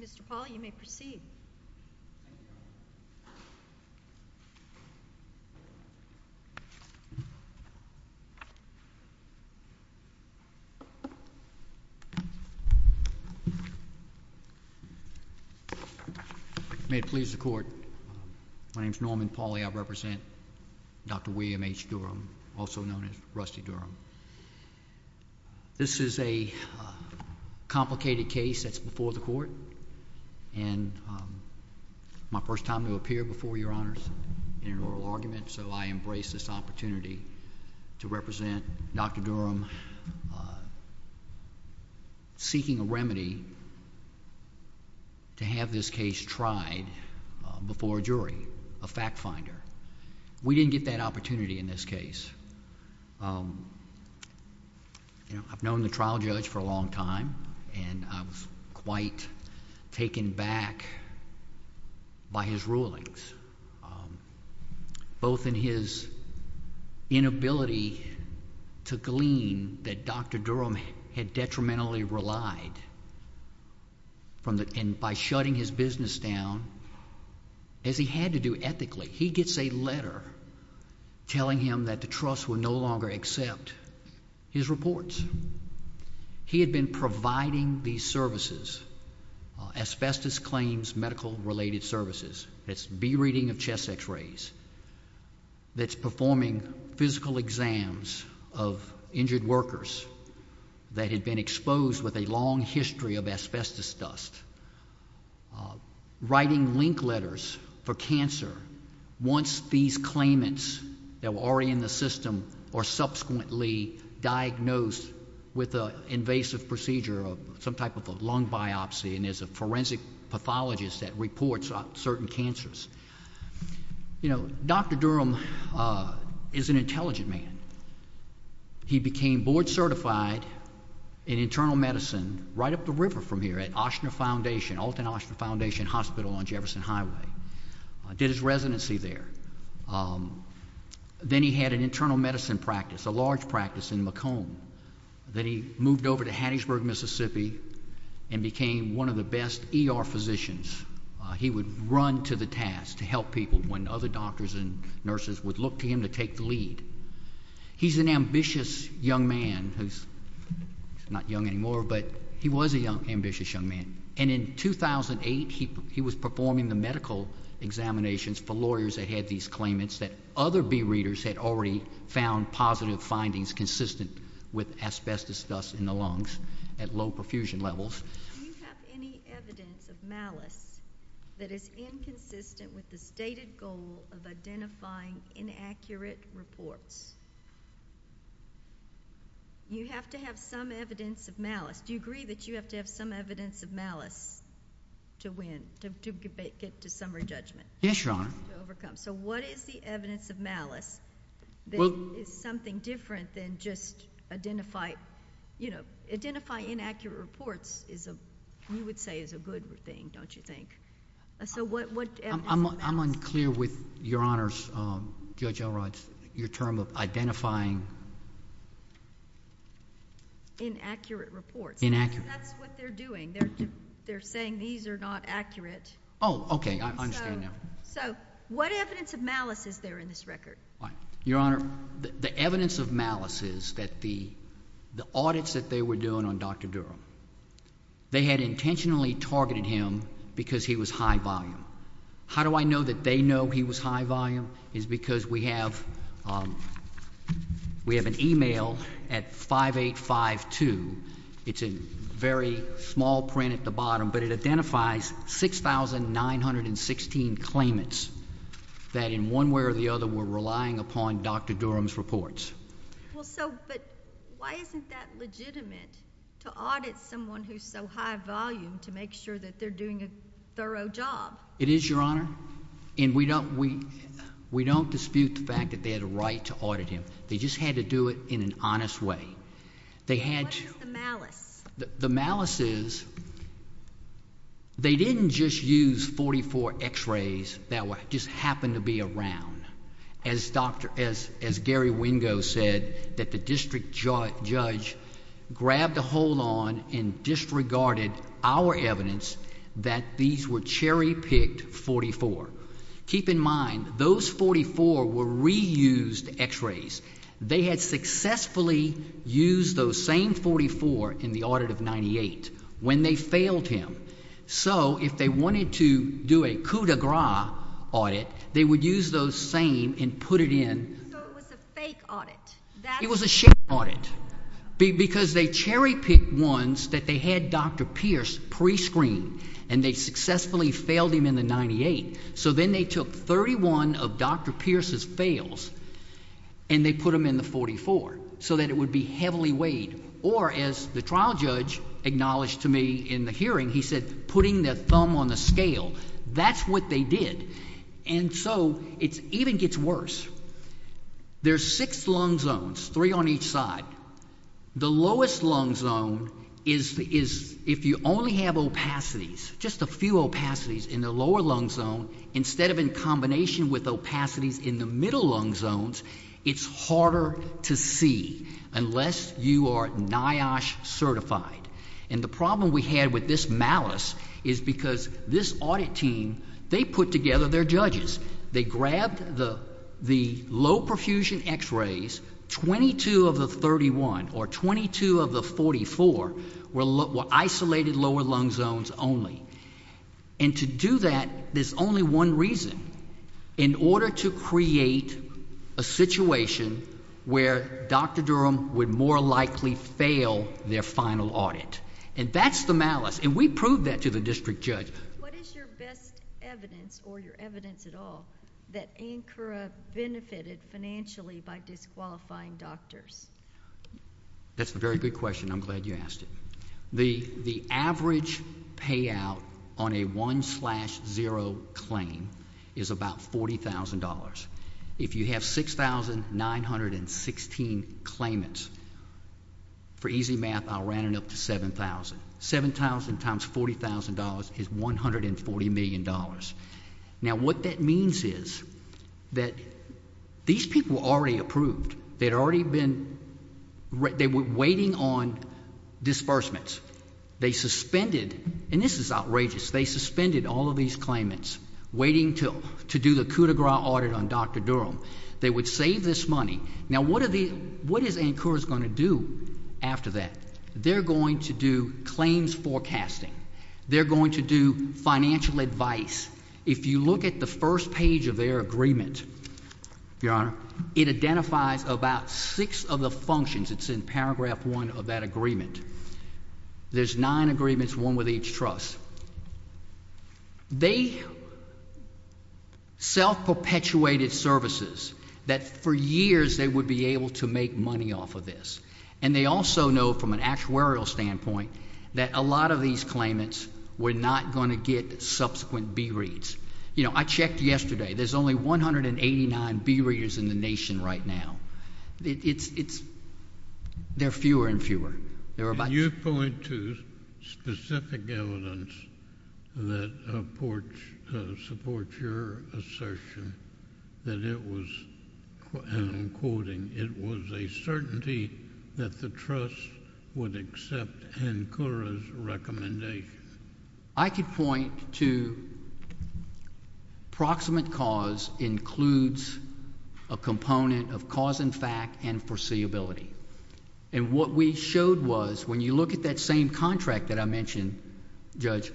Mr. Paul, you may proceed. May it please the Court, my name is Norman Pauley, I represent Dr. William H. Durham, also known as Rusty Durham. This is a complicated case that's before the Court, and my first time to appear before Your Honors in an oral argument, so I embrace this opportunity to represent Dr. Durham, seeking a remedy to have this case tried before a jury, a fact finder. We didn't get that opportunity in this case. I've known the trial judge for a long time, and I was quite taken back by his rulings, both in his inability to glean that Dr. Durham had detrimentally relied, and by shutting his business down, as he had to do ethically. He gets a letter telling him that the trust would no longer accept his reports. He had been providing these services, asbestos claims medical-related services, that's B-reading of chest x-rays, that's performing physical exams of injured workers that had been exposed with a long history of asbestos dust, writing link letters for cancer, once these claimants that were already in the system are subsequently diagnosed with an invasive procedure of some type of a lung biopsy, and there's a forensic pathologist that reports on certain cancers. You know, Dr. Durham is an intelligent man. He became board-certified in internal medicine right up the river from here at Alton Oshner Foundation Hospital on Jefferson Highway, did his residency there. Then he had an internal medicine practice, a large practice in Macomb, then he moved over to Hattiesburg, Mississippi, and became one of the best ER physicians. He would run to the task to help people when other doctors and nurses would look to him to take the lead. He's an ambitious young man who's not young anymore, but he was an ambitious young man, and in 2008, he was performing the medical examinations for lawyers that had these claimants that other B-readers had already found positive findings consistent with asbestos dust in the lungs at low perfusion levels. Do you have any evidence of malice that is inconsistent with the stated goal of identifying inaccurate reports? You have to have some evidence of malice, do you agree that you have to have some evidence of malice to win, to get to summary judgment? Yes, Your Honor. To overcome. So what is the evidence of malice that is something different than just identify, you would say, is a good thing, don't you think? So what evidence of malice? I'm unclear with Your Honor's, Judge Elrod's, your term of identifying... Inaccurate reports. Inaccurate. That's what they're doing. They're saying these are not accurate. Oh, okay. I understand now. So what evidence of malice is there in this record? Your Honor, the evidence of malice is that the audits that they were doing on Dr. Durham, they had intentionally targeted him because he was high volume. How do I know that they know he was high volume? It's because we have an email at 5852. It's a very small print at the bottom, but it identifies 6,916 claimants that in one way or the other were relying upon Dr. Durham's reports. Well, so, but why isn't that legitimate to audit someone who's so high volume to make sure that they're doing a thorough job? It is, Your Honor. And we don't dispute the fact that they had a right to audit him. They just had to do it in an honest way. They had to... What is the malice? The malice is they didn't just use 44 x-rays that just happened to be around. As Dr.... as Gary Wingo said, that the district judge grabbed a hold on and disregarded our evidence that these were cherry-picked 44. Keep in mind, those 44 were reused x-rays. They had successfully used those same 44 in the audit of 98 when they failed him. So, if they wanted to do a coup de grace audit, they would use those same and put it in... So, it was a fake audit. It was a sham audit because they cherry-picked ones that they had Dr. Pierce pre-screened and they successfully failed him in the 98. So, then they took 31 of Dr. Pierce's fails and they put them in the 44 so that it would be heavily weighed. Or, as the trial judge acknowledged to me in the hearing, he said, putting the thumb on the scale. That's what they did. And so, it even gets worse. There are six lung zones, three on each side. The lowest lung zone is if you only have opacities, just a few opacities in the lower lung zone instead of in combination with opacities in the middle lung zones, it's harder to see unless you are NIOSH certified. And the problem we had with this malice is because this audit team, they put together their judges. They grabbed the low perfusion x-rays, 22 of the 31 or 22 of the 44 were isolated lower lung zones only. And to do that, there's only one reason. In order to create a situation where Dr. Durham would more likely fail their final audit. And that's the malice. And we proved that to the district judge. What is your best evidence or your evidence at all that Ankara benefited financially by disqualifying doctors? That's a very good question. I'm glad you asked it. The average payout on a 1 slash 0 claim is about $40,000. If you have 6,916 claimants, for easy math, I'll round it up to 7,000. 7,000 times $40,000 is $140 million. Now what that means is that these people already approved. They were waiting on disbursements. They suspended, and this is outrageous, they suspended all of these claimants waiting to do the Coup de Grace audit on Dr. Durham. They would save this money. Now what is Ankara going to do after that? They're going to do claims forecasting. They're going to do financial advice. If you look at the first page of their agreement, Your Honor, it identifies about six of the functions. It's in paragraph one of that agreement. There's nine agreements, one with each trust. They self-perpetuated services that for years they would be able to make money off of this. And they also know from an actuarial standpoint that a lot of these claimants were not going to get subsequent B-reads. I checked yesterday. There's only 189 B-readers in the nation right now. There are fewer and fewer. You point to specific evidence that supports your assertion that it was, and I'm quoting, it was a certainty that the trust would accept Ankara's recommendation. I could point to proximate cause includes a component of cause and fact and foreseeability. And what we showed was, when you look at that same contract that I mentioned, Judge,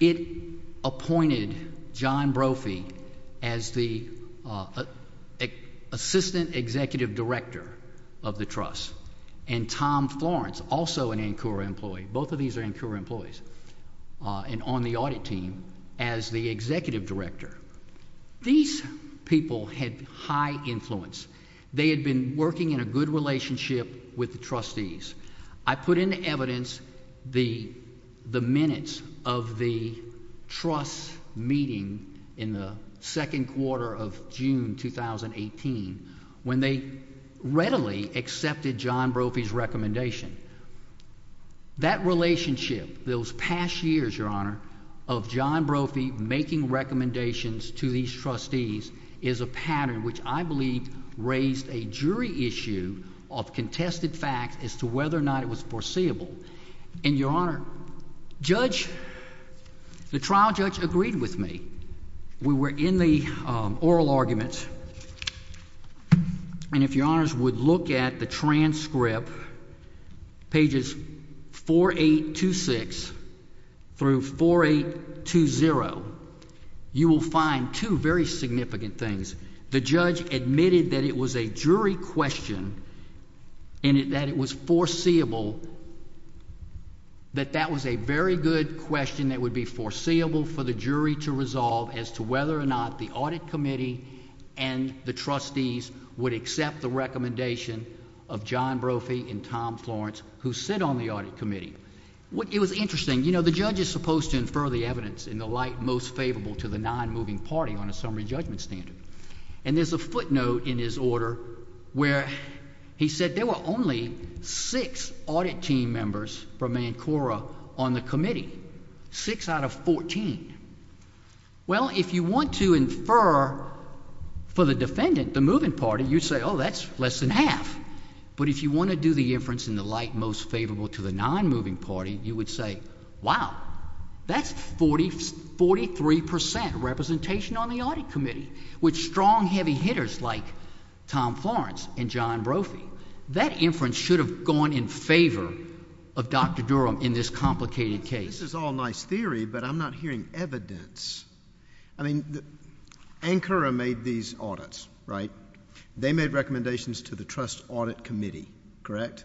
it appointed John Brophy as the assistant executive director of the trust, and Tom Florence, also an Ankara employee, both of these are Ankara employees, and on the audit team as the executive director. These people had high influence. They had been working in a good relationship with the trustees. I put into evidence the minutes of the trust's meeting in the second quarter of June 2018 when they readily accepted John Brophy's recommendation. That relationship, those past years, Your Honor, of John Brophy making recommendations to these trustees is a pattern which I believe raised a jury issue of contested facts as to whether or not it was foreseeable. And, Your Honor, Judge, the trial judge agreed with me. We were in the oral argument, and if Your Honors would look at the transcript, pages 4826 through 4820, you will find two very significant things. The judge admitted that it was a jury question and that it was foreseeable, that that was a very good question that would be foreseeable for the jury to resolve as to whether or not the audit committee and the trustees would accept the recommendation of John Brophy and Tom Florence, who sit on the audit committee. It was interesting. You know, the judge is supposed to infer the evidence in the light most favorable to the nonmoving party on a summary judgment standard. And there's a footnote in his order where he said there were only six audit team members from ANCORA on the committee, six out of fourteen. Well, if you want to infer for the defendant, the moving party, you say, oh, that's less than half. But if you want to do the inference in the light most favorable to the nonmoving party, you would say, wow, that's 43 percent representation on the audit committee with strong heavy hitters like Tom Florence and John Brophy. That inference should have gone in favor of Dr. Durham in this complicated case. This is all nice theory, but I'm not hearing evidence. I mean, ANCORA made these audits, right? They made recommendations to the trust audit committee, correct?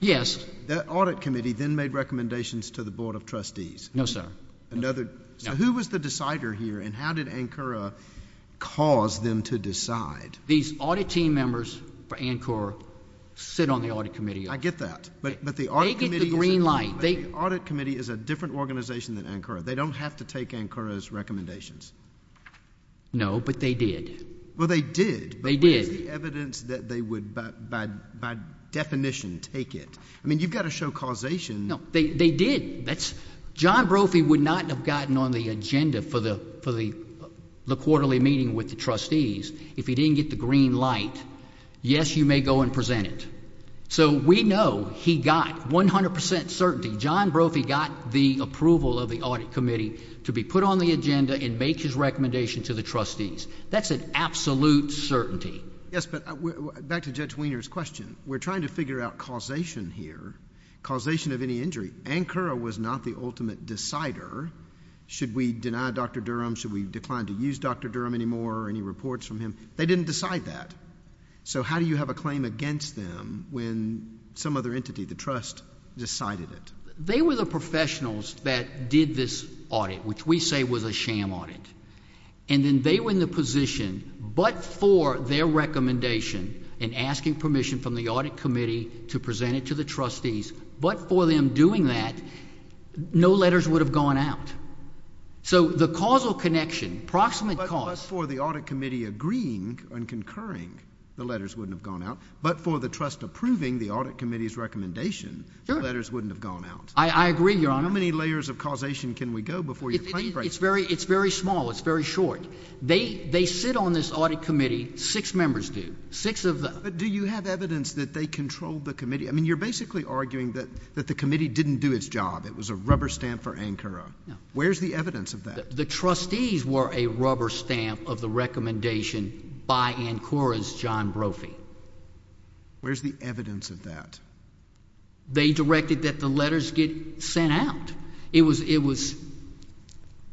Yes. That audit committee then made recommendations to the Board of Trustees. No, sir. So who was the decider here, and how did ANCORA cause them to decide? These audit team members for ANCORA sit on the audit committee. I get that. They get the green light. But the audit committee is a different organization than ANCORA. They don't have to take ANCORA's recommendations. No, but they did. Well, they did. They did. But there's no evidence that they would, by definition, take it. I mean, you've got to show causation. No, they did. John Brophy would not have gotten on the agenda for the quarterly meeting with the trustees if he didn't get the green light, yes, you may go and present it. So we know he got 100 percent certainty. John Brophy got the approval of the audit committee to be put on the agenda and make his recommendation to the trustees. That's an absolute certainty. Yes, but back to Judge Wiener's question. We're trying to figure out causation here, causation of any injury. ANCORA was not the ultimate decider. Should we deny Dr. Durham? Should we decline to use Dr. Durham anymore or any reports from him? They didn't decide that. So how do you have a claim against them when some other entity, the trust, decided it? They were the professionals that did this audit, which we say was a sham audit. And then they were in the position, but for their recommendation and asking permission from the audit committee to present it to the trustees, but for them doing that, no letters would have gone out. So the causal connection, proximate cause. But for the audit committee agreeing and concurring, the letters wouldn't have gone out. But for the trust approving the audit committee's recommendation, the letters wouldn't have gone out. I agree, Your Honor. How many layers of causation can we go before your claim breaks? It's very small. It's very short. They sit on this audit committee. Six members do, six of them. But do you have evidence that they controlled the committee? I mean, you're basically arguing that the committee didn't do its job. It was a rubber stamp for ANCORA. Where's the evidence of that? The trustees were a rubber stamp of the recommendation by ANCORA's John Brophy. Where's the evidence of that? They directed that the letters get sent out. It was,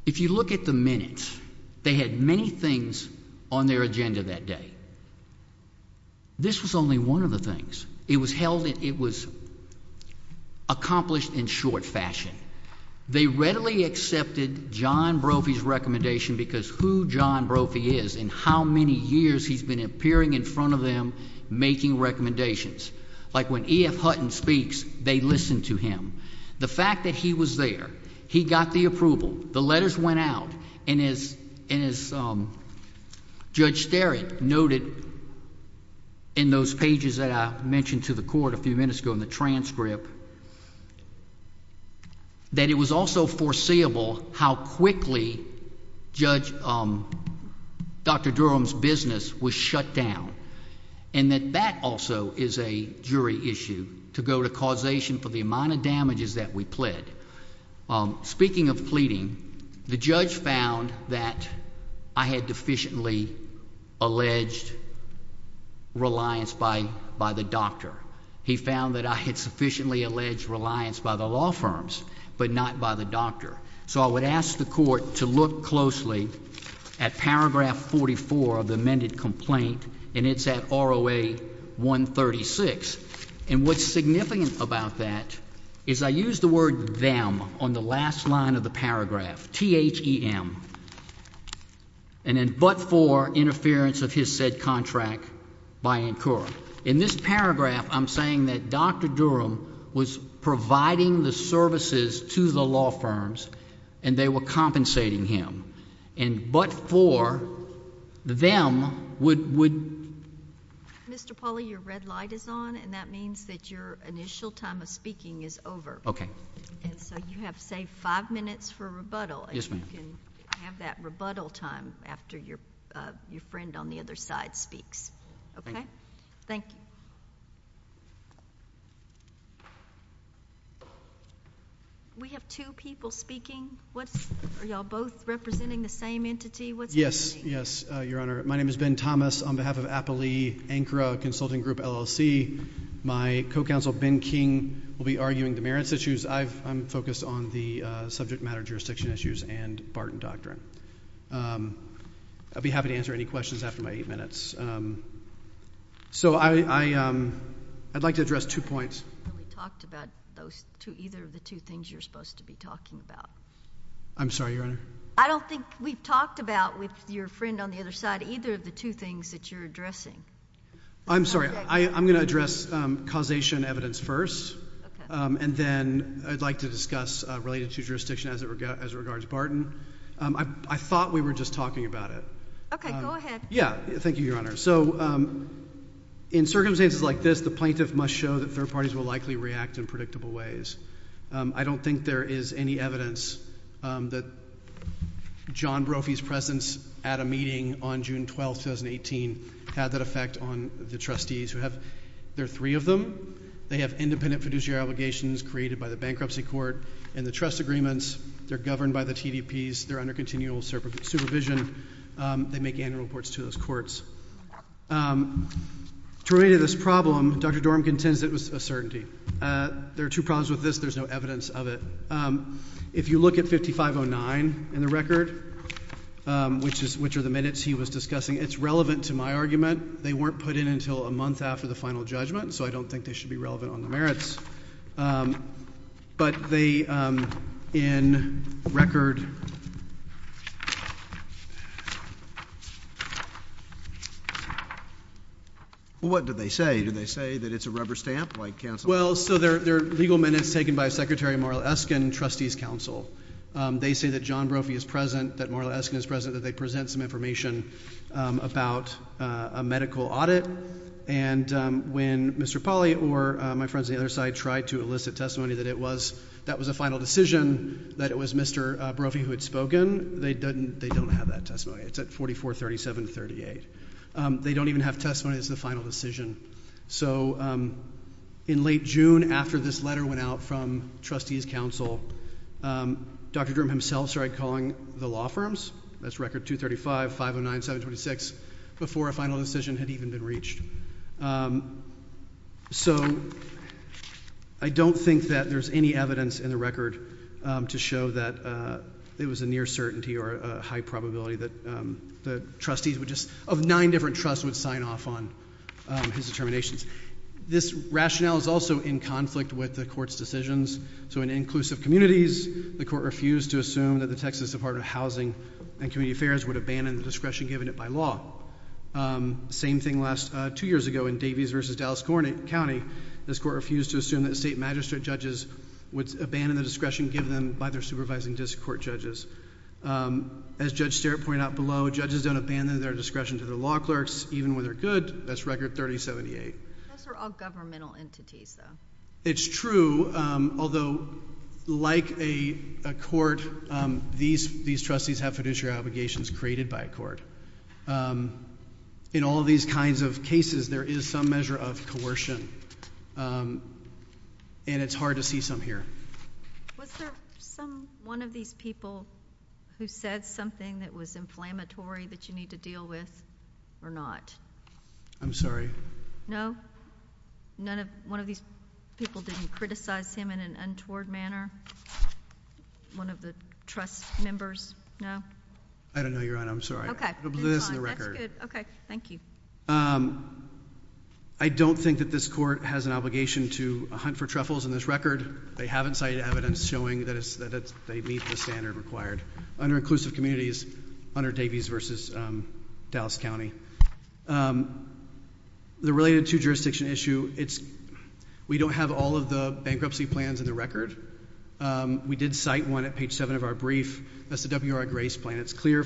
if you look at the minutes, they had many things on their agenda that day. This was only one of the things. It was held in, it was accomplished in short fashion. They readily accepted John Brophy's recommendation because who John Brophy is and how many years he's been appearing in front of them making recommendations. Like when E.F. Hutton speaks, they listen to him. The fact that he was there, he got the approval, the letters went out, and as Judge Sterritt noted in those pages that I mentioned to the court a few minutes ago in the transcript, that it was also foreseeable how quickly Judge, Dr. Durham's business was shut down. And that that also is a jury issue to go to causation for the amount of damages that we pled. Speaking of pleading, the judge found that I had deficiently alleged reliance by the doctor. He found that I had sufficiently alleged reliance by the law firms but not by the doctor. So I would ask the court to look closely at paragraph 44 of the amended complaint, and it's at ROA 136. And what's significant about that is I used the word them on the last line of the paragraph, T-H-E-M, and then but for interference of his said contract by incur. So in this paragraph, I'm saying that Dr. Durham was providing the services to the law firms, and they were compensating him. And but for them would... Mr. Pauly, your red light is on, and that means that your initial time of speaking is over. Okay. And so you have, say, five minutes for rebuttal. Yes, ma'am. And you can have that rebuttal time after your friend on the other side speaks. Okay? Thank you. Thank you. We have two people speaking. What's... Are you all both representing the same entity? What's happening? Yes, Your Honor. My name is Ben Thomas. On behalf of Appalee-Anchora Consulting Group, LLC, my co-counsel, Ben King, will be arguing demerits issues. I'm focused on the subject matter jurisdiction issues and Barton Doctrine. I'll be happy to answer any questions after my eight minutes. So I'd like to address two points. We talked about either of the two things you're supposed to be talking about. I'm sorry, Your Honor? I don't think we talked about with your friend on the other side either of the two things that you're addressing. I'm sorry. I'm going to address causation evidence first. Okay. And then I'd like to discuss related to jurisdiction as it regards Barton. I thought we were just talking about it. Okay. Go ahead. Yeah. Thank you, Your Honor. So in circumstances like this, the plaintiff must show that third parties will likely react in predictable ways. I don't think there is any evidence that John Brophy's presence at a meeting on June 12, 2018, had that effect on the trustees who have... There are three of them. They have independent fiduciary obligations created by the bankruptcy court and the trust agreements. They're governed by the TDPs. They're under continual supervision. They make annual reports to those courts. To relate to this problem, Dr. Dorham contends it was a certainty. There are two problems with this. There's no evidence of it. If you look at 5509 in the record, which are the minutes he was discussing, it's relevant to my argument. They weren't put in until a month after the final judgment, so I don't think they should be relevant on the merits. But they, in record... Well, what did they say? Did they say that it's a rubber stamp like counsel... Well, so they're legal minutes taken by Secretary Marla Eskin and trustees counsel. They say that John Brophy is present, that Marla Eskin is present, that they present some information about a medical audit. And when Mr. Polley or my friends on the other side tried to elicit testimony that it was... that was a final decision, that it was Mr. Brophy who had spoken, they don't have that testimony. It's at 4437-38. They don't even have testimony that's the final decision. So, in late June, after this letter went out from trustees counsel, Dr. Durham himself started calling the law firms. That's record 235, 509, 726, before a final decision had even been reached. So, I don't think that there's any evidence in the record to show that it was a near certainty or a high probability that the trustees would just... This rationale is also in conflict with the Court's decisions. So, in inclusive communities, the Court refused to assume that the Texas Department of Housing and Community Affairs would abandon the discretion given it by law. Same thing last... two years ago in Davies v. Dallas County, this Court refused to assume that state magistrate judges would abandon the discretion given them by their supervising district court judges. As Judge Sterritt pointed out below, judges don't abandon their discretion to their law clerks, even when they're good. That's record 3078. Those are all governmental entities though. It's true, although like a court, these trustees have fiduciary obligations created by a court. In all these kinds of cases, there is some measure of coercion. And, it's hard to see some here. Was there some... one of these people who said something that was inflammatory that you need to deal with or not? I'm sorry. No? None of... one of these people didn't criticize him in an untoward manner? One of the trust members? No? I don't know, Your Honor. I'm sorry. Okay. This is the record. That's good. Okay. Thank you. I don't think that this court has an obligation to hunt for truffles in this record. They haven't cited evidence showing that they meet the standard required under inclusive communities under Davies v. Dallas County. The related to jurisdiction issue, it's... we don't have all of the bankruptcy plans in the record. We did cite one at page 7 of our brief. That's the WR Grace plan. And, it's clear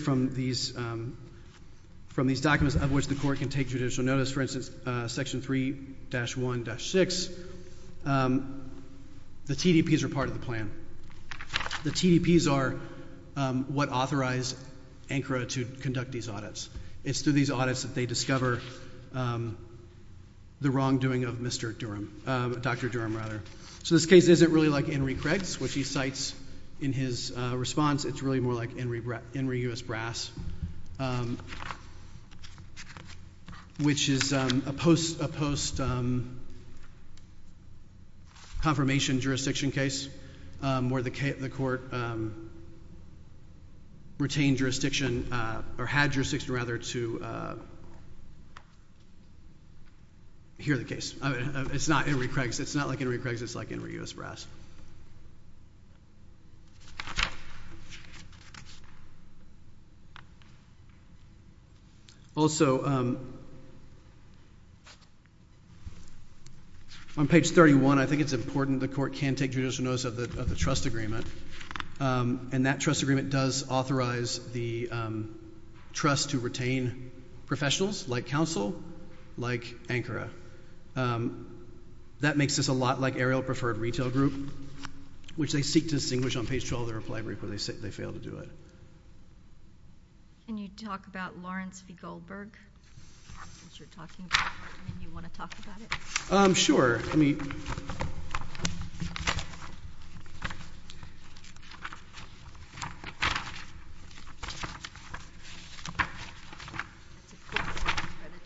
from these documents of which the court can take judicial notice. For instance, section 3-1-6, the TDPs are part of the plan. The TDPs are what authorize ANCRA to conduct these audits. It's through these audits that they discover the wrongdoing of Mr. Durham... Dr. Durham, rather. So, this case isn't really like Henry Craig's, which he cites in his response. It's really more like Henry U.S. Brass, which is a post-confirmation jurisdiction case where the court retained jurisdiction... or had jurisdiction, rather, to hear the case. It's not Henry Craig's. It's not like Henry Craig's. It's like Henry U.S. Brass. Also, on page 31, I think it's important the court can take judicial notice of the trust agreement. And, that trust agreement does authorize the trust to retain professionals, like counsel, like ANCRA. That makes this a lot like Ariel Preferred Retail Group, which they seek to distinguish on page 12 of their reply brief, but they fail to do it. Can you talk about Lawrence v. Goldberg? You want to talk about it? Um, sure. That's a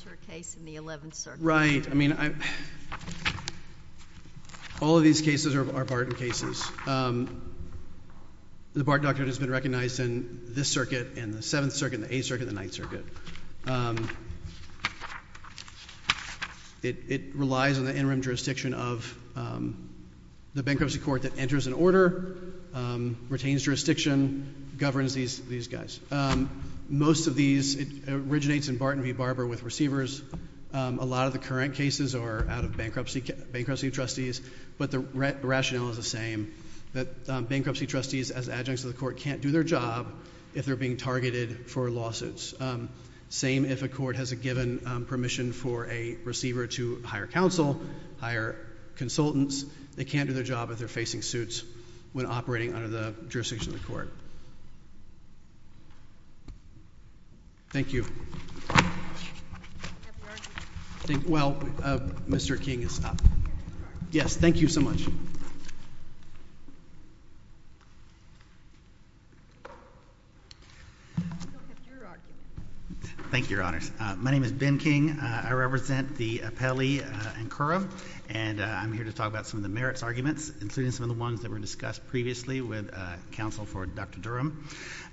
court case in the Eleventh Circuit. Right. I mean, I... All of these cases are Barton cases. The Barton Doctrine has been recognized in this circuit, in the Seventh Circuit, the Eighth Circuit, and the Ninth Circuit. It relies on the interim jurisdiction of the bankruptcy court that enters an order, retains jurisdiction, governs these guys. Most of these, it originates in Barton v. Barber with receivers. A lot of the current cases are out of bankruptcy trustees, but the rationale is the same. That bankruptcy trustees, as adjuncts of the court, can't do their job if they're being targeted for lawsuits. Same if a court has a given permission for a receiver to hire counsel, hire consultants. They can't do their job if they're facing suits when operating under the jurisdiction of the court. Thank you. Well, Mr. King is up. Yes, thank you so much. Thank you, Your Honors. My name is Ben King. I represent the appellee in Curran, and I'm here to talk about some of the merits arguments, including some of the ones that were discussed previously with counsel for Dr. Durham.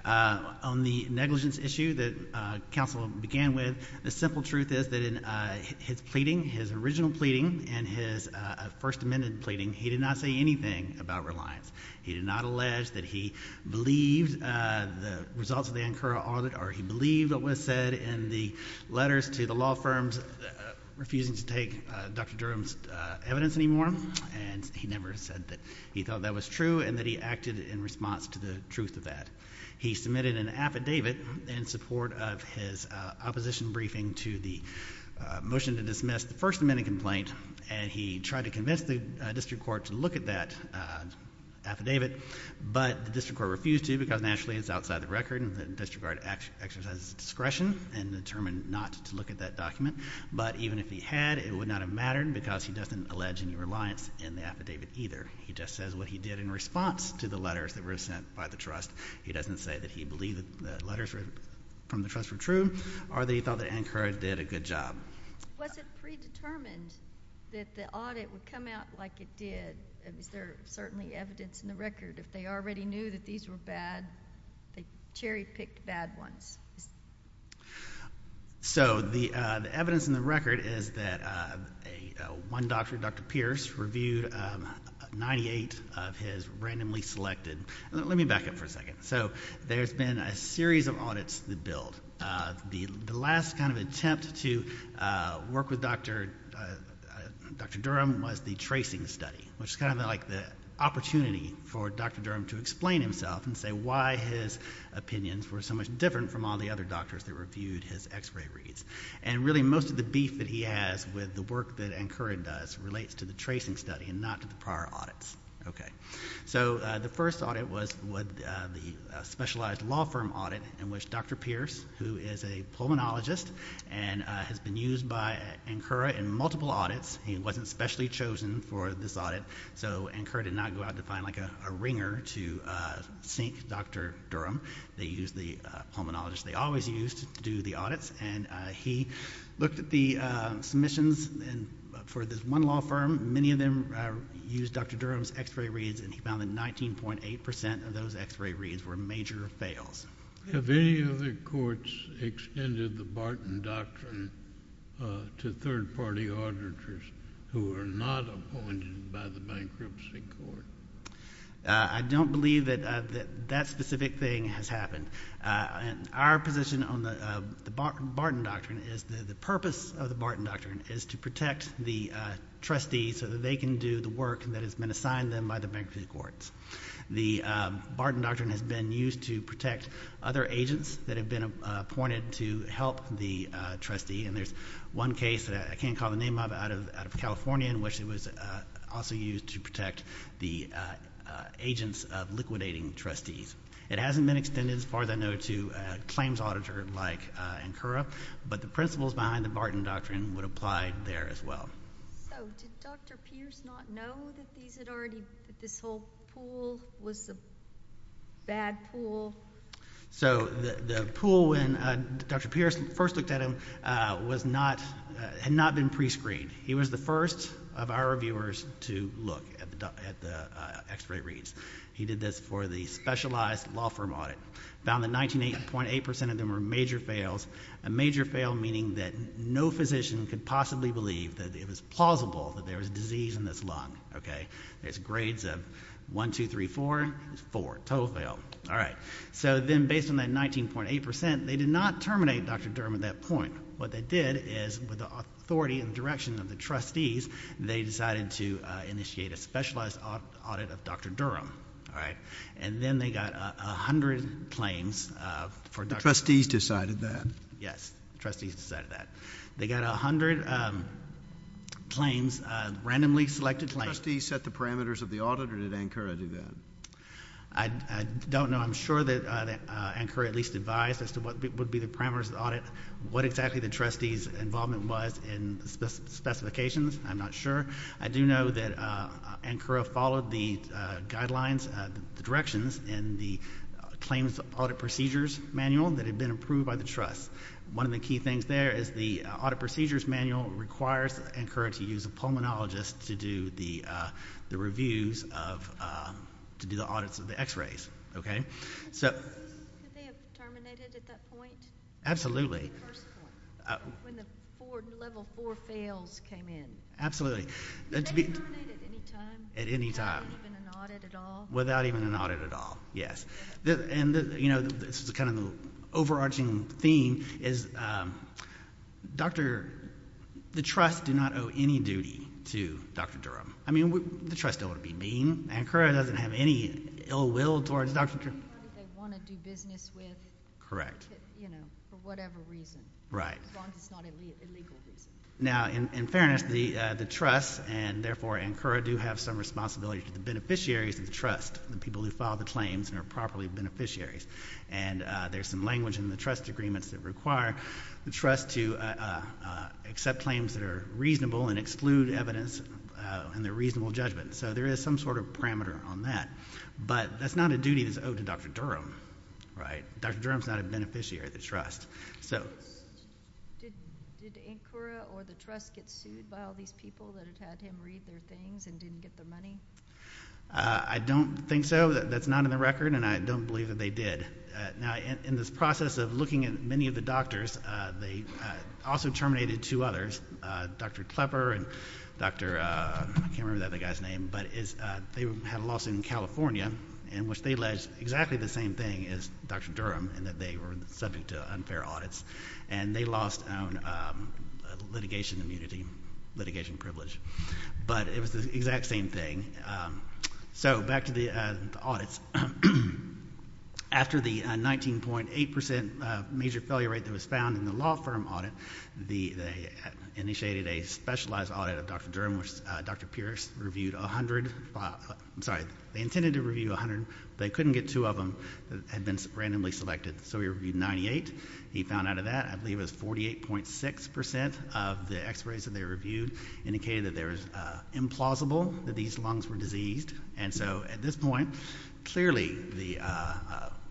On the negligence issue that counsel began with, the simple truth is that in his original pleading and his First Amendment pleading, he did not say anything about reliance. He did not allege that he believed the results of the Ankara audit, or he believed what was said in the letters to the law firms refusing to take Dr. Durham's evidence anymore. And he never said that he thought that was true and that he acted in response to the truth of that. He submitted an affidavit in support of his opposition briefing to the motion to dismiss the First Amendment complaint, and he tried to convince the district court to look at that affidavit. But the district court refused to because, naturally, it's outside the record, and the district court exercised its discretion and determined not to look at that document. But even if he had, it would not have mattered because he doesn't allege any reliance in the affidavit either. He just says what he did in response to the letters that were sent by the trust. He doesn't say that he believed the letters from the trust were true or that he thought that Ankara did a good job. Was it predetermined that the audit would come out like it did? Is there certainly evidence in the record? If they already knew that these were bad, they cherry-picked bad ones. So the evidence in the record is that one doctor, Dr. Pierce, reviewed 98 of his randomly selected. Let me back up for a second. So there's been a series of audits that build. The last kind of attempt to work with Dr. Durham was the tracing study, which is kind of like the opportunity for Dr. Durham to explain himself and say why his opinions were so much different from all the other doctors that reviewed his x-ray reads. And really most of the beef that he has with the work that Ankara does relates to the tracing study and not to the prior audits. So the first audit was the specialized law firm audit in which Dr. Pierce, who is a pulmonologist and has been used by Ankara in multiple audits. He wasn't specially chosen for this audit, so Ankara did not go out to find a ringer to sink Dr. Durham. They used the pulmonologist they always used to do the audits, and he looked at the submissions for this one law firm. Many of them used Dr. Durham's x-ray reads, and he found that 19.8 percent of those x-ray reads were major fails. Have any of the courts extended the Barton Doctrine to third-party auditors who are not appointed by the bankruptcy court? I don't believe that that specific thing has happened. Our position on the Barton Doctrine is that the purpose of the Barton Doctrine is to protect the trustees so that they can do the work that has been assigned them by the bankruptcy courts. The Barton Doctrine has been used to protect other agents that have been appointed to help the trustee, and there's one case that I can't call the name of out of California in which it was also used to protect the agents of liquidating trustees. It hasn't been extended as far as I know to a claims auditor like Ankura, but the principles behind the Barton Doctrine would apply there as well. So did Dr. Pierce not know that this whole pool was a bad pool? So the pool when Dr. Pierce first looked at him had not been pre-screened. He was the first of our reviewers to look at the x-ray reads. He did this for the specialized law firm audit, found that 19.8% of them were major fails, a major fail meaning that no physician could possibly believe that it was plausible that there was a disease in this lung. There's grades of 1, 2, 3, 4. There's 4. Total fail. All right. So then based on that 19.8%, they did not terminate Dr. Durham at that point. What they did is with the authority and direction of the trustees, they decided to initiate a specialized audit of Dr. Durham. All right. And then they got 100 claims for Dr. Durham. The trustees decided that. Yes. Trustees decided that. They got 100 claims, randomly selected claims. Did the trustees set the parameters of the audit or did Ankura do that? I don't know. I'm sure that Ankura at least advised as to what would be the parameters of the audit, what exactly the trustees' involvement was in specifications. I'm not sure. I do know that Ankura followed the guidelines, the directions in the claims audit procedures manual that had been approved by the trust. One of the key things there is the audit procedures manual requires Ankura to use a pulmonologist to do the reviews of, to do the audits of the x-rays. Okay. Could they have terminated at that point? Absolutely. When the level four fails came in. Absolutely. Could they terminate at any time? At any time. Without even an audit at all? Without even an audit at all. Yes. And, you know, this is kind of the overarching theme is Dr. – the trust did not owe any duty to Dr. Durham. I mean, the trust don't want to be mean. Ankura doesn't have any ill will towards Dr. Durham. They want to do business with. Correct. You know, for whatever reason. Right. As long as it's not illegal business. Now, in fairness, the trust and, therefore, Ankura do have some responsibility to the beneficiaries of the trust, the people who filed the claims and are properly beneficiaries. And there's some language in the trust agreements that require the trust to accept claims that are reasonable and exclude evidence in their reasonable judgment. So there is some sort of parameter on that. But that's not a duty that's owed to Dr. Durham. Right? Dr. Durham is not a beneficiary of the trust. Did Ankura or the trust get sued by all these people that had had him read their things and didn't get the money? I don't think so. That's not in the record, and I don't believe that they did. Now, in this process of looking at many of the doctors, they also terminated two others, Dr. Klepper and Dr. I can't remember the other guy's name. But they had a lawsuit in California in which they alleged exactly the same thing as Dr. Durham in that they were subject to unfair audits. And they lost litigation immunity, litigation privilege. But it was the exact same thing. So back to the audits. After the 19.8% major failure rate that was found in the law firm audit, they initiated a specialized audit of Dr. Durham, which Dr. Pierce reviewed 100. I'm sorry. They intended to review 100. They couldn't get two of them that had been randomly selected. So he reviewed 98. He found out of that, I believe it was 48.6% of the x-rays that they reviewed indicated that there was implausible, that these lungs were diseased. And so at this point, clearly,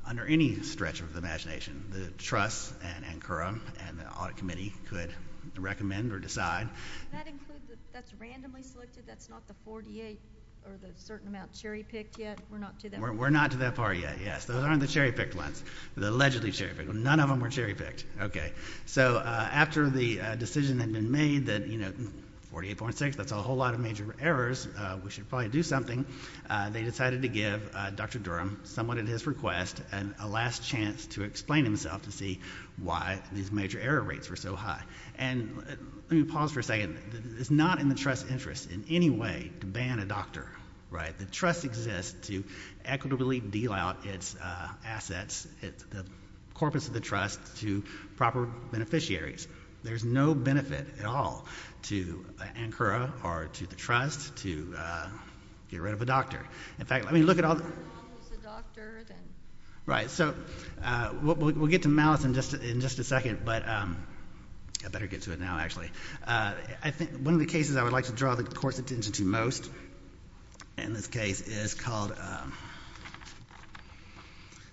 under any stretch of the imagination, the trust and NCURM and the audit committee could recommend or decide. That includes, that's randomly selected? That's not the 48 or the certain amount cherry-picked yet? We're not to that part yet. We're not to that part yet, yes. Those aren't the cherry-picked ones. The allegedly cherry-picked. None of them were cherry-picked. Okay. So after the decision had been made that, you know, 48.6, that's a whole lot of major errors. We should probably do something. They decided to give Dr. Durham, somewhat at his request, a last chance to explain himself to see why these major error rates were so high. And let me pause for a second. It's not in the trust's interest in any way to ban a doctor, right? The trust exists to equitably deal out its assets, the corpus of the trust, to proper beneficiaries. There's no benefit at all to NCURA or to the trust to get rid of a doctor. In fact, I mean, look at all. Well, if it's a doctor, then. Right. So we'll get to malice in just a second. But I better get to it now, actually. One of the cases I would like to draw the court's attention to most in this case is called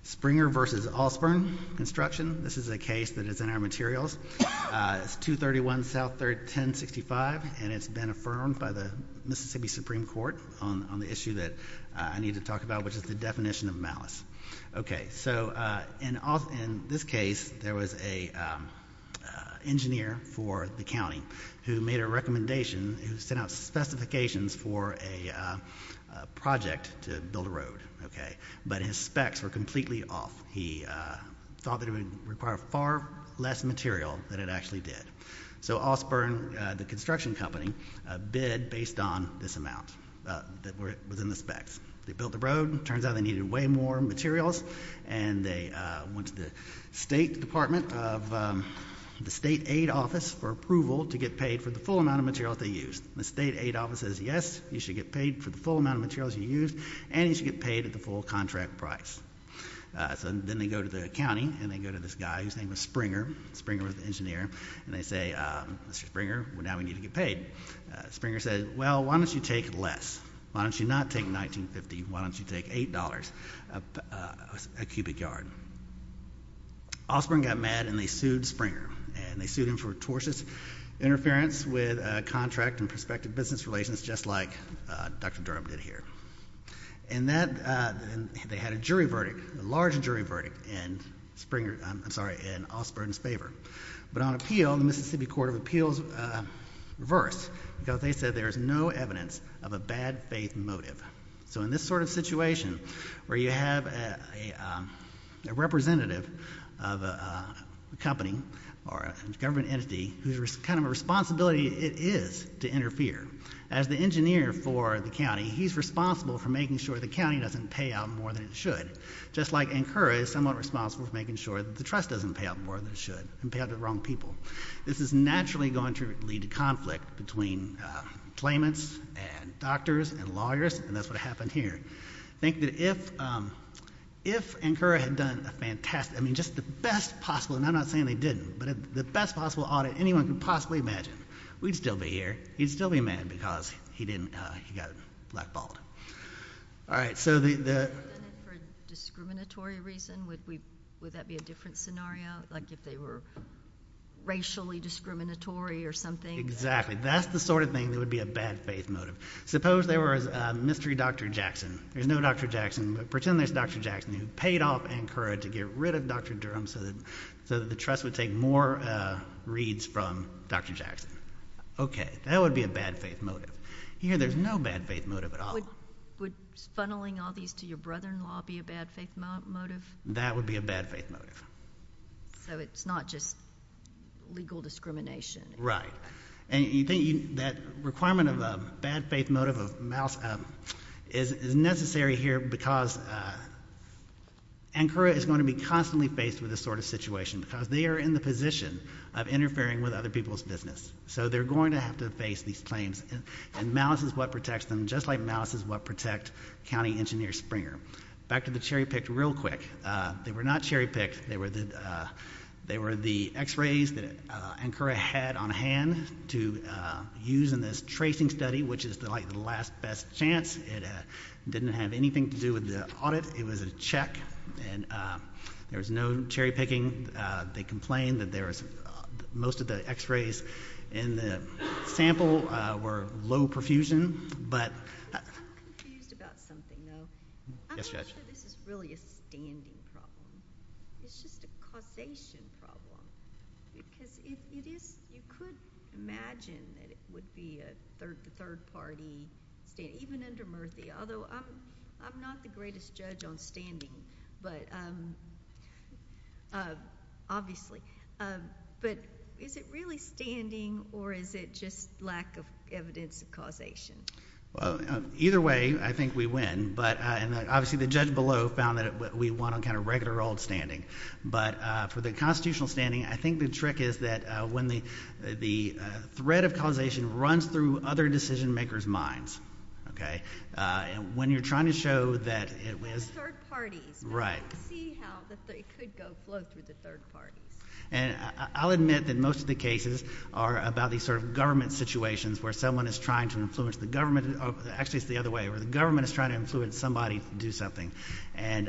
Springer v. Allspern Construction. This is a case that is in our materials. It's 231 South 1065, and it's been affirmed by the Mississippi Supreme Court on the issue that I need to talk about, which is the definition of malice. So in this case, there was an engineer for the county who made a recommendation, who sent out specifications for a project to build a road. But his specs were completely off. He thought that it would require far less material than it actually did. So Allspern, the construction company, bid based on this amount that was in the specs. They built the road. It turns out they needed way more materials, and they went to the state department of the state aid office for approval to get paid for the full amount of materials they used. The state aid office says, yes, you should get paid for the full amount of materials you used, and you should get paid at the full contract price. So then they go to the county, and they go to this guy whose name was Springer. Springer was the engineer. And they say, Mr. Springer, now we need to get paid. Springer said, well, why don't you take less? Why don't you not take $19.50? Why don't you take $8 a cubic yard? Allspern got mad, and they sued Springer. And they sued him for tortious interference with contract and prospective business relations, just like Dr. Durham did here. And they had a jury verdict, a large jury verdict, in Allspern's favor. But on appeal, the Mississippi Court of Appeals reversed, because they said there is no evidence of a bad faith motive. So in this sort of situation where you have a representative of a company or a government entity whose kind of responsibility it is to interfere, as the engineer for the county, he's responsible for making sure the county doesn't pay out more than it should. Just like ANCURA is somewhat responsible for making sure that the trust doesn't pay out more than it should and pay out to the wrong people. This is naturally going to lead to conflict between claimants and doctors and lawyers, and that's what happened here. I think that if ANCURA had done a fantastic, I mean, just the best possible, and I'm not saying they didn't, but the best possible audit anyone could possibly imagine, we'd still be here, he'd still be mad because he got blackballed. All right, so the... For a discriminatory reason, would that be a different scenario? Like if they were racially discriminatory or something? Exactly. That's the sort of thing that would be a bad faith motive. Suppose there was a mystery Dr. Jackson. There's no Dr. Jackson, but pretend there's Dr. Jackson who paid off ANCURA to get rid of Dr. Durham so that the trust would take more reads from Dr. Jackson. Okay, that would be a bad faith motive. Here there's no bad faith motive at all. Would funneling all these to your brother-in-law be a bad faith motive? That would be a bad faith motive. So it's not just legal discrimination. Right, and you think that requirement of a bad faith motive is necessary here because ANCURA is going to be constantly faced with this sort of situation because they are in the position of interfering with other people's business. So they're going to have to face these claims. And malice is what protects them, just like malice is what protects County Engineer Springer. Back to the cherry-picked real quick. They were not cherry-picked. They were the x-rays that ANCURA had on hand to use in this tracing study, which is like the last best chance. It didn't have anything to do with the audit. It was a check, and there was no cherry-picking. They complained that most of the x-rays in the sample were low perfusion. I'm confused about something, though. Yes, Judge. I'm not sure this is really a standing problem. It's just a causation problem because you could imagine that it would be a third-party stand, even under Murthy, although I'm not the greatest judge on standing, obviously. But is it really standing, or is it just lack of evidence of causation? Either way, I think we win. Obviously the judge below found that we won on kind of regular old standing. But for the constitutional standing, I think the trick is that when the threat of causation runs through other decision-makers' minds, when you're trying to show that it was— Third parties. Right. See how it could go through the third parties. I'll admit that most of the cases are about these sort of government situations where someone is trying to influence the government. Actually, it's the other way. The government is trying to influence somebody to do something, and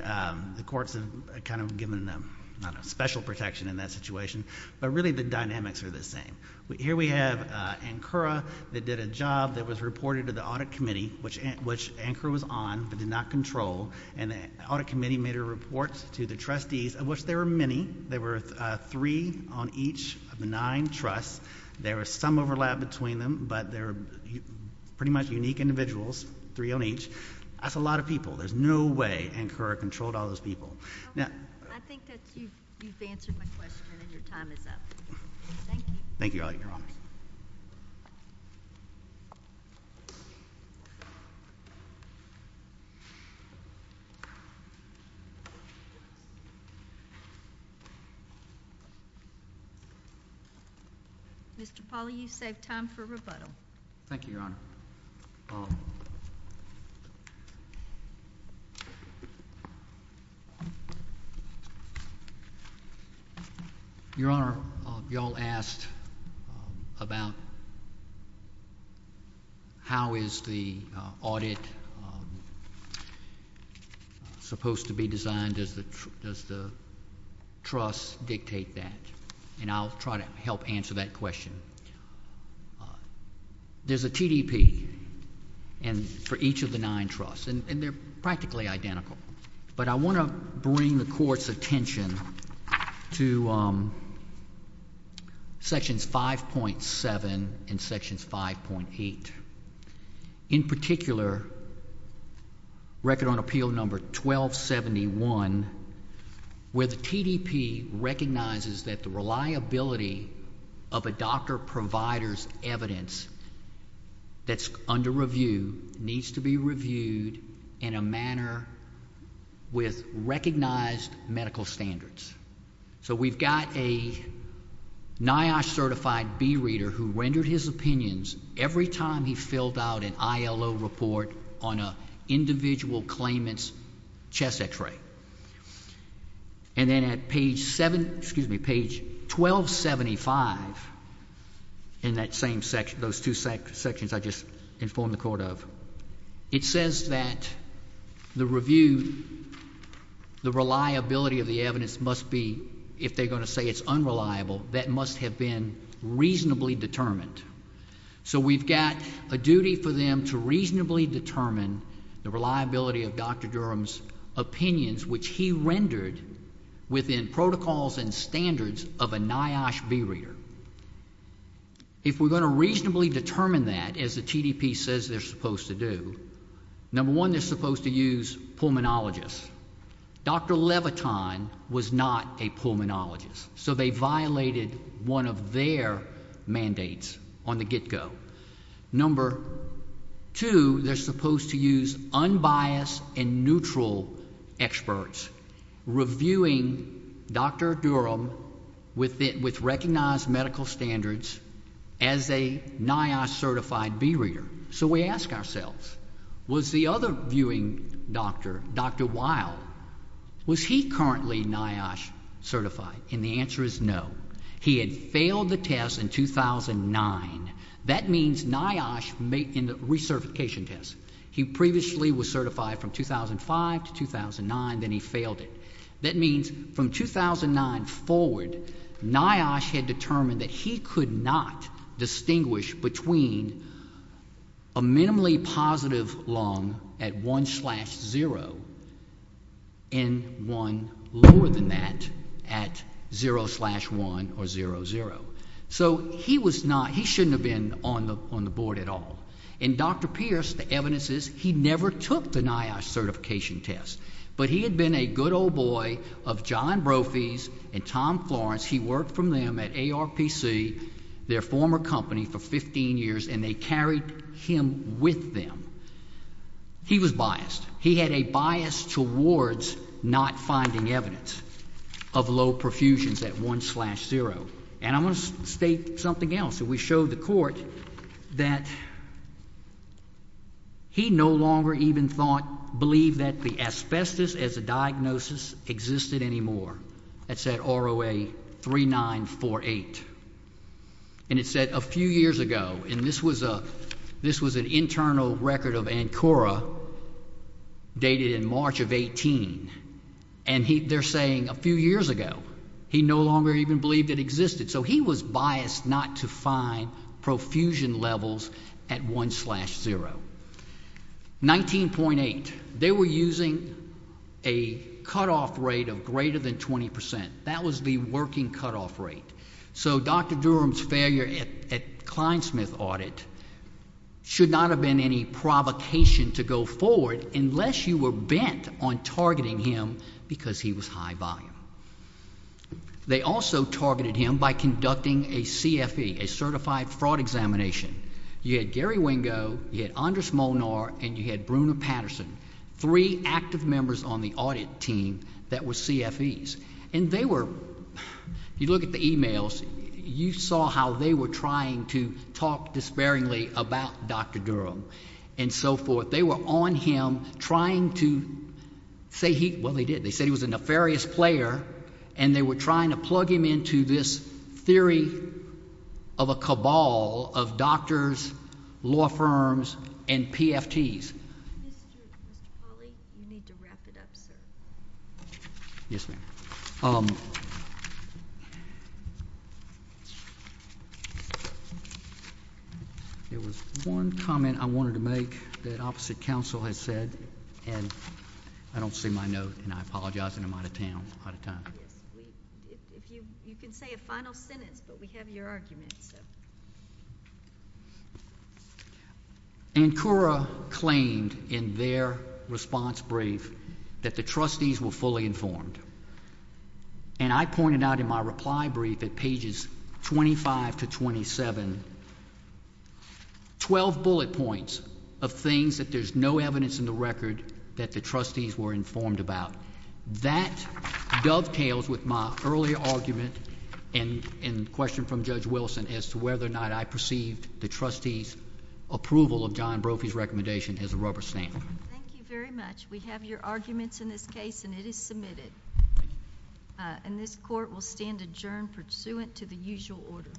the courts have kind of given them special protection in that situation. But really the dynamics are the same. Here we have Ankura that did a job that was reported to the Audit Committee, which Ankura was on but did not control, and the Audit Committee made a report to the trustees, of which there were many. There were three on each of the nine trusts. There was some overlap between them, but they're pretty much unique individuals, three on each. That's a lot of people. There's no way Ankura controlled all those people. I think that you've answered my question, and your time is up. Thank you. Thank you, Your Honor. Mr. Polley, you've saved time for rebuttal. Thank you, Your Honor. Your Honor, you all asked about how is the audit supposed to be designed? Does the trust dictate that? And I'll try to help answer that question. There's a TDP for each of the nine trusts, and they're practically identical. But I want to bring the Court's attention to Sections 5.7 and Sections 5.8. In particular, Record on Appeal number 1271, where the TDP recognizes that the reliability of a doctor provider's evidence that's under review needs to be reviewed in a manner with recognized medical standards. So we've got a NIOSH-certified B-reader who rendered his opinions every time he filled out an ILO report on an individual claimant's chest X-ray. And then at page 1275 in those two sections I just informed the Court of, it says that the review, the reliability of the evidence must be, if they're going to say it's unreliable, that must have been reasonably determined. So we've got a duty for them to reasonably determine the reliability of Dr. Durham's opinions, which he rendered within protocols and standards of a NIOSH B-reader. If we're going to reasonably determine that, as the TDP says they're supposed to do, number one, they're supposed to use pulmonologists. Dr. Leviton was not a pulmonologist, so they violated one of their mandates on the get-go. Number two, they're supposed to use unbiased and neutral experts reviewing Dr. Durham with recognized medical standards as a NIOSH-certified B-reader. So we ask ourselves, was the other viewing doctor, Dr. Weil, was he currently NIOSH-certified? And the answer is no. He had failed the test in 2009. That means NIOSH in the recertification test. He previously was certified from 2005 to 2009, then he failed it. That means from 2009 forward, NIOSH had determined that he could not distinguish between a minimally positive lung at 1 slash 0 and one lower than that at 0 slash 1 or 0, 0. So he was not, he shouldn't have been on the board at all. And Dr. Pierce, the evidence is he never took the NIOSH certification test, but he had been a good old boy of John Brophy's and Tom Florence. He worked for them at ARPC, their former company, for 15 years, and they carried him with them. He was biased. He had a bias towards not finding evidence of low perfusions at 1 slash 0. And I'm going to state something else. We showed the court that he no longer even thought, believed that the asbestos as a diagnosis existed anymore. That's at ROA 3948. And it said a few years ago, and this was an internal record of ANCORA dated in March of 18. And they're saying a few years ago, he no longer even believed it existed. So he was biased not to find perfusion levels at 1 slash 0. 19.8, they were using a cutoff rate of greater than 20%. That was the working cutoff rate. So Dr. Durham's failure at Clinesmith audit should not have been any provocation to go forward unless you were bent on targeting him because he was high volume. They also targeted him by conducting a CFE, a certified fraud examination. You had Gary Wingo, you had Anders Molnar, and you had Bruna Patterson, three active members on the audit team that were CFEs. And they were, you look at the e-mails, you saw how they were trying to talk despairingly about Dr. Durham and so forth. They were on him trying to say he – well, they did. They said he was a nefarious player, and they were trying to plug him into this theory of a cabal of doctors, law firms, and PFTs. Mr. Pauley, you need to wrap it up, sir. Yes, ma'am. There was one comment I wanted to make that opposite counsel has said, and I don't see my note, and I apologize, and I'm out of time. You can say a final sentence, but we have your argument. Ankura claimed in their response brief that the trustees were fully informed. And I pointed out in my reply brief at pages 25 to 27, 12 bullet points of things that there's no evidence in the record that the trustees were informed about. That dovetails with my earlier argument and question from Judge Wilson as to whether or not I perceived the trustees' approval of John Brophy's recommendation as a rubber stamp. Thank you very much. We have your arguments in this case, and it is submitted. And this court will stand adjourned pursuant to the usual order.